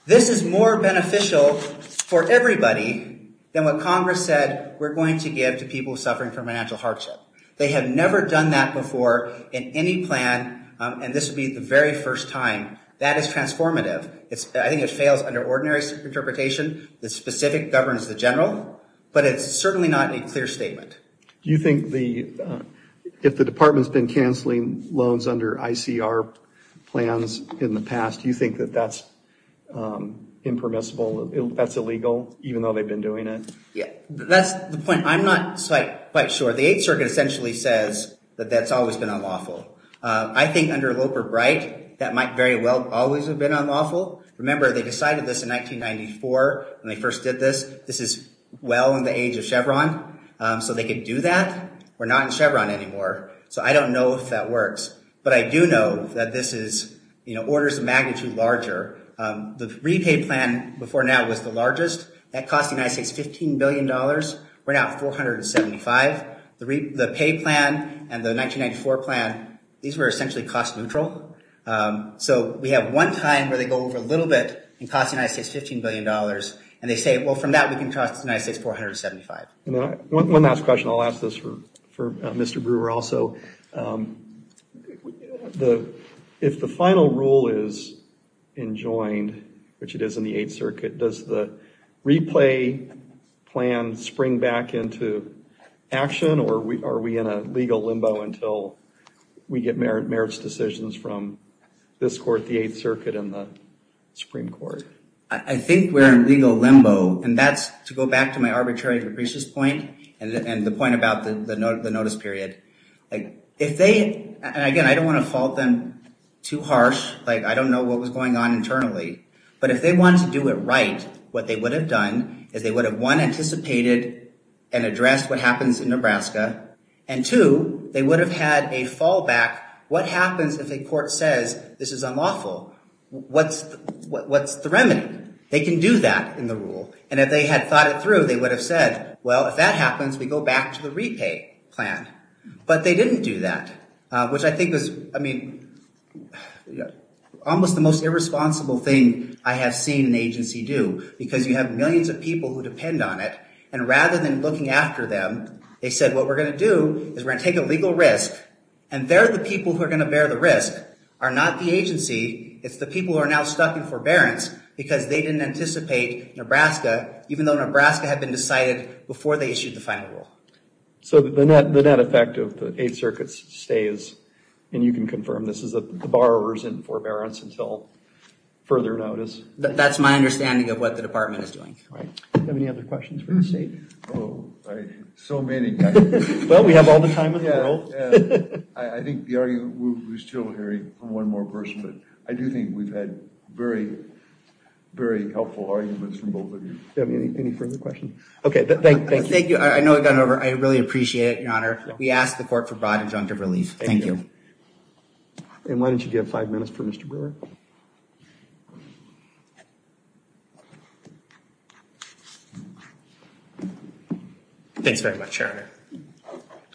This is more beneficial for everybody than what Congress said we're going to give to people suffering from financial hardship. They have never done that before in any plan, and this will be the very first time. That is transformative. I think it fails under ordinary interpretation. The specific governs the general, but it's certainly not a clear statement. Do you think the, if the department's been cancelling loans under ICR plans in the past, do you think that that's impermissible, that's illegal, even though they've been doing it? Yeah, that's the point. I'm not quite sure. The Eighth Circuit essentially says that that's always been unlawful. I think under Loper-Bright, that might very well always have been unlawful. Remember, they decided this in 1994 when they first did this. This is well in the age of Chevron, so they could do that. We're not in Chevron anymore, so I don't know if that works. But I do know that this is, you know, orders of magnitude larger. The repay plan before now was the largest. That cost the United States $15 billion. We're now at $475. The pay plan and the 1994 plan, these were essentially cost neutral. So we have one time where they go over a little bit and cost the United States $15 billion, and they say, well, from that we can cost the United States $475. One last question. I'll ask this for Mr. Brewer also. If the final rule is enjoined, which it is in the Eighth Circuit, does the replay plan spring back into action, or are we in a legal limbo until we get merits decisions from this court, the Eighth Circuit, and the Supreme Court? I think we're in legal limbo, and that's to go back to my arbitrary depreciation point and the point about the notice period. If they, and again, I don't want to fault them too harsh. I don't know what was going on internally, but if they wanted to do it right, what they would have done is they would have, one, anticipated and addressed what happens in Nebraska, and two, they would have had a fallback. What happens if a court says this is unlawful? What's the remedy? They can do that in the rule, and if they had thought it through, they would have said, well, if that happens, we go back to the repay plan, but they didn't do that, which I think is, I mean, almost the most irresponsible thing I have seen an agency do, because you have millions of people who depend on it, and rather than looking after them, they said, what we're going to do is we're going to take a legal risk, and they're the people who are going to bear the risk, are not the agency. It's the people who are now stuck in forbearance because they didn't anticipate Nebraska, even though Nebraska had been decided before they issued the final rule. So the net effect of the Eighth Circuit's stay is, and you can confirm this, is that the borrower is in forbearance until further notice. That's my understanding of what the department is doing. Do you have any other questions for the state? So many. Well, we have all the time in the world. I think we're still hearing from one more person, but I do think we've had very, very helpful arguments from both of you. Do you have any further questions? Okay, thank you. I know I've gone over. I really appreciate it, Your Honor. We ask the court for broad injunctive relief. Thank you. And why don't you give five minutes for Mr. Brewer? Thanks very much, Your Honor.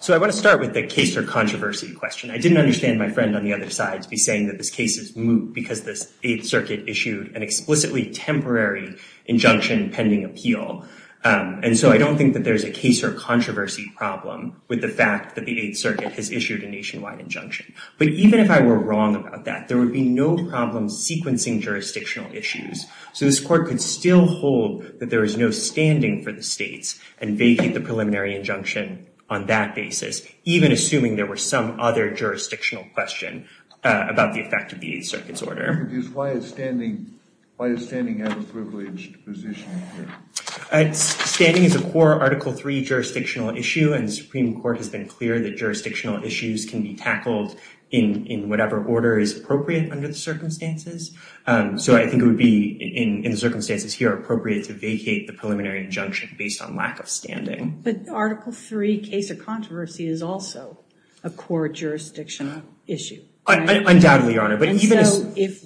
So I want to start with the case or controversy question. I didn't understand my friend on the other side to be saying that this case is moot because this Eighth Circuit issued an explicitly temporary injunction pending appeal. And so I don't think that there's a case or controversy problem with the fact that the Eighth Circuit has issued a nationwide injunction. But even if I were wrong about that, there would be no problem sequencing jurisdictional issues. So this court could still hold that there is no standing for the states and vacate the preliminary injunction on that basis, even assuming there were some other jurisdictional question about the effect of the Eighth Circuit's order. I'm confused. Why is standing out of privileged position here? Standing is a core Article III jurisdictional issue. And the Supreme Court has been clear that jurisdictional issues can be tackled in whatever order is appropriate under the circumstances. So I think it would be, in the circumstances here, appropriate to vacate the preliminary injunction based on lack of standing. But Article III case or controversy is also a core jurisdictional issue. Undoubtedly, Your Honor. And so if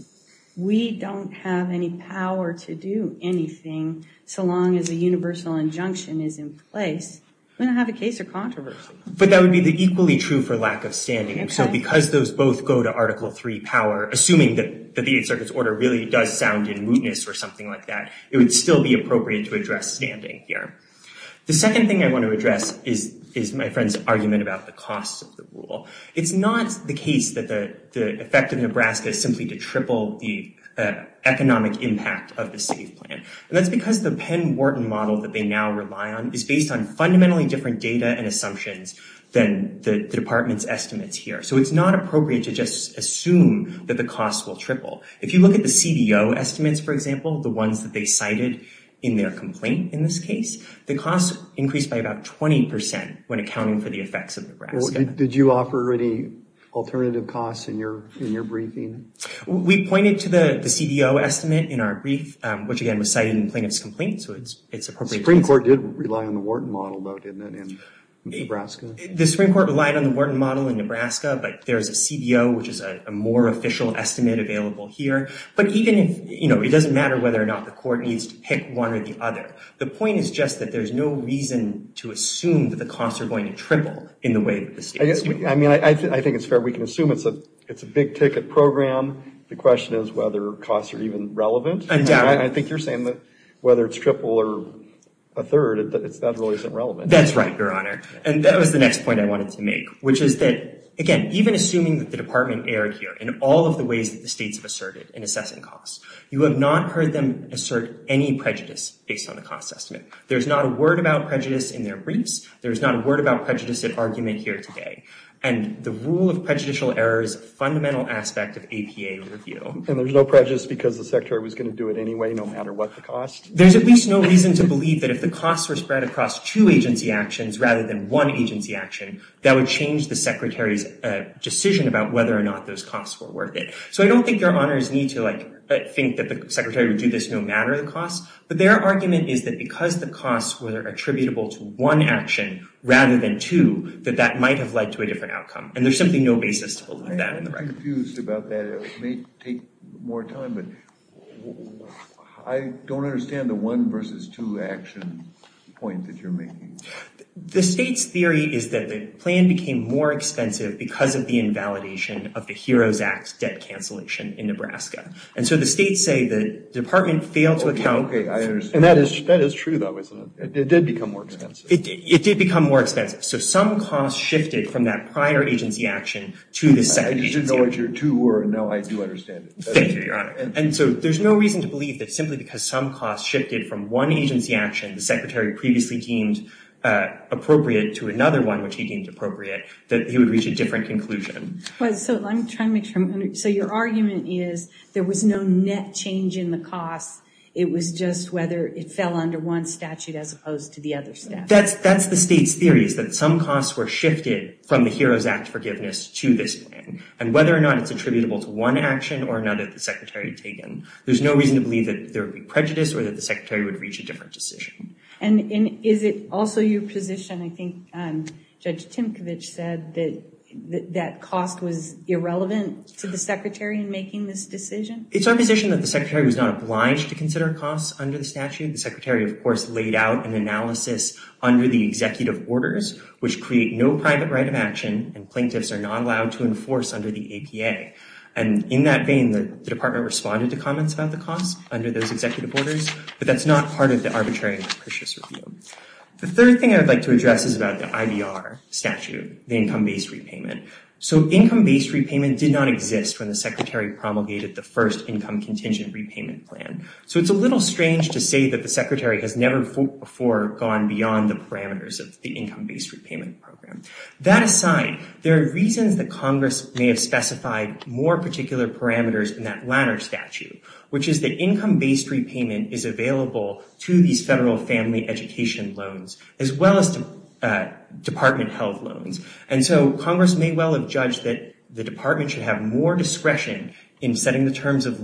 we don't have any power to do anything, so long as a universal injunction is in place, we don't have a case or controversy. But that would be equally true for lack of standing. And so because those both go to Article III power, assuming that the Eighth Circuit's order really does sound in mootness or something like that, it would still be appropriate to address standing here. The second thing I want to address is my friend's argument about the cost of the rule. It's not the case that the effect of Nebraska is simply to triple the economic impact of the SAFE plan. And that's because the Penn-Wharton model that they now rely on is based on fundamentally different data and assumptions than the Department's estimates here. So it's not appropriate to just assume that the costs will triple. If you look at the CBO estimates, for example, the ones that they cited in their complaint in this case, the costs increased by about 20% when accounting for the effects of Nebraska. Well, did you offer any alternative costs in your briefing? We pointed to the CBO estimate in our brief, which, again, was cited in the plaintiff's complaint. So it's appropriate. The Supreme Court did rely on the Wharton model, though, didn't it, in Nebraska? The Supreme Court relied on the Wharton model in Nebraska. But there's a CBO, which is a more official estimate available here. But even if it doesn't matter whether or not the court needs to pick one or the other, the point is just that there's no reason to assume that the costs are going to triple in the way that the states do. I mean, I think it's fair. We can assume it's a big-ticket program. The question is whether costs are even relevant. Undoubtedly. I think you're saying that whether it's triple or a third, that really isn't relevant. That's right, Your Honor. And that was the next point I wanted to make, which is that, again, even assuming that the Department erred here in all of the ways that the states have asserted in assessing costs, you have not heard them assert any prejudice based on the cost estimate. There's not a word about prejudice in their briefs. There's not a word about prejudice in argument here today. And the rule of prejudicial error is a fundamental aspect of APA review. And there's no prejudice because the Secretary was going to do it anyway, no matter what the cost? There's at least no reason to believe that if the costs were spread across two agency actions rather than one agency action, that would change the Secretary's decision about whether or not those costs were worth it. So I don't think Your Honors need to think that the Secretary would do this no matter the cost. But their argument is that because the costs were attributable to one action rather than two, that that might have led to a different outcome. And there's simply no basis to believe that in the record. I'm confused about that. It may take more time. But I don't understand the one versus two action point that you're making. The state's theory is that the plan became more expensive because of the invalidation of the HEROES Act debt cancellation in Nebraska. And so the states say the department failed to account. OK, I understand. And that is true, though, isn't it? It did become more expensive. It did become more expensive. So some costs shifted from that prior agency action to the second agency action. I didn't know what your two were. And now I do understand it. Thank you, Your Honor. And so there's no reason to believe that simply because some costs shifted from one agency action the Secretary previously deemed appropriate to another one which he deemed appropriate, that he would reach a different conclusion. So I'm trying to make sure I'm understanding. So your argument is there was no net change in the cost. It was just whether it fell under one statute as opposed to the other statute. That's the state's theory, is that some costs were shifted from the HEROES Act forgiveness to this plan. And whether or not it's attributable to one action or another that the Secretary had taken, there's no reason to believe that there would be prejudice or that the Secretary would reach a different decision. And is it also your position, I think Judge Timkovich said, that that cost was irrelevant to the Secretary in making this decision? It's our position that the Secretary was not obliged to consider costs under the statute. The Secretary, of course, laid out an analysis under the executive orders, which create no private right of action, and plaintiffs are not allowed to enforce under the APA. And in that vein, the Department responded to comments about the cost under those executive orders. But that's not part of the arbitrary and capricious review. The third thing I'd like to address is about the IVR statute, the income-based repayment. So income-based repayment did not exist when the Secretary promulgated the first income contingent repayment plan. So it's a little strange to say that the Secretary has never before gone beyond the parameters of the income-based repayment program. That aside, there are reasons that Congress may have specified more particular parameters in that latter statute, which is that income-based repayment is available to these federal family education loans, as well as department-held loans. And so Congress may well have judged that the Department should have more discretion in setting the terms of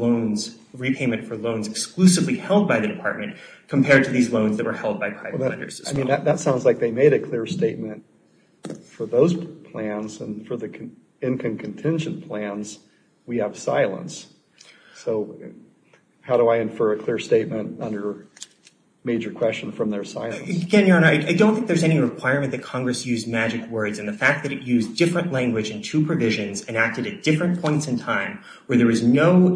repayment for loans exclusively held by the Department compared to these loans that were held by private lenders as well. That sounds like they made a clear statement. For those plans and for the income contingent plans, we have silence. So how do I infer a clear statement under major question from their silence? Again, Your Honor, I don't think there's any requirement that Congress use magic words in the fact that it used different language in two provisions and acted at different points in time where there is no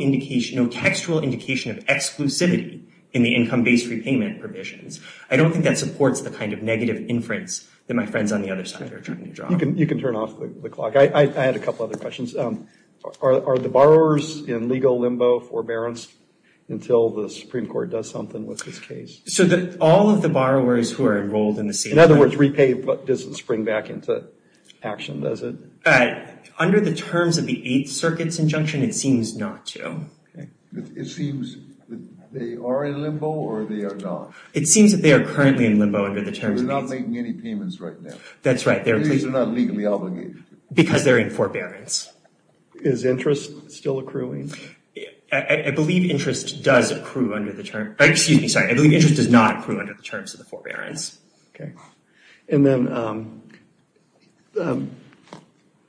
textual indication of exclusivity in the income-based repayment provisions. I don't think that supports the kind of negative inference that my friends on the other side are trying to draw. You can turn off the clock. I had a couple other questions. Are the borrowers in legal limbo forbearance until the Supreme Court does something with this case? So all of the borrowers who are enrolled in the same plan? In other words, repayment doesn't spring back into action, does it? Under the terms of the Eighth Circuit's injunction, it seems not to. It seems that they are in limbo or they are not. It seems that they are currently in limbo under the terms They're not making any payments right now. That's right. At least they're not legally obligated. Because they're in forbearance. Is interest still accruing? I believe interest does accrue under the term. Excuse me, sorry. I believe interest does not accrue under the terms of the forbearance. And then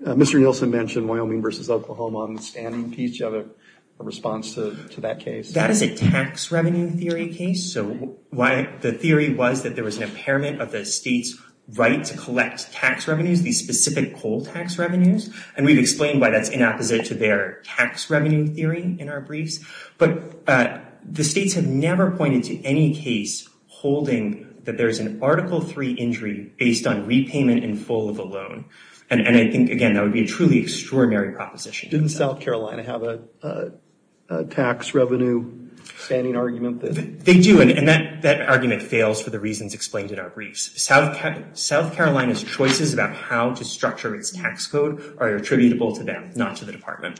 Mr. Nielsen mentioned Wyoming versus Oklahoma on the standing piece. Do you have a response to that case? That is a tax revenue theory case. So the theory was that there was an impairment of the state's right to collect tax revenues, these specific coal tax revenues. And we've explained why that's in opposite to their tax revenue theory in our briefs. But the states have never pointed to any case holding that there's an Article III injury based on repayment in full of a loan. And I think, again, that would be a truly extraordinary proposition. Didn't South Carolina have a tax revenue standing argument? They do. And that argument fails for the reasons explained in our briefs. South Carolina's choices about how to structure its tax code are attributable to them, not to the Department.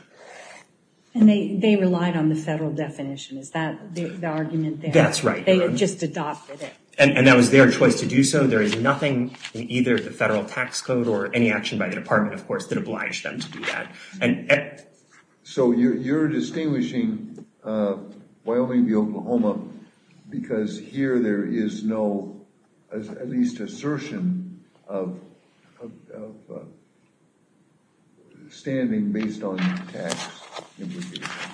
And they relied on the federal definition. Is that the argument there? That's right. They had just adopted it. And that was their choice to do so. There is nothing in either the federal tax code or any action by the Department, of course, that obliged them to do that. So you're distinguishing Wyoming v. Oklahoma because here there is no, at least, assertion of standing based on tax.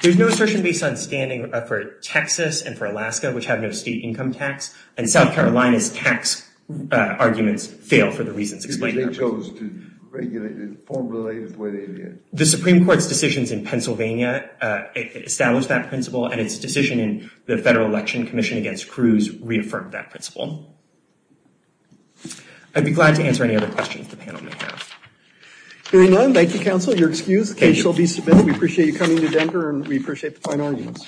There's no assertion based on standing for Texas and for Alaska, which have no state income tax. And South Carolina's tax arguments fail for the reasons explained in our briefs. Because they chose to regulate it in a form related to where they did. The Supreme Court's decisions in Pennsylvania established that principle. And its decision in the Federal Election Commission against Cruz reaffirmed that principle. I'd be glad to answer any other questions the panel may have. Hearing none, thank you, counsel. You're excused. The case shall be submitted. We appreciate you coming to Denver. And we appreciate the fine arguments.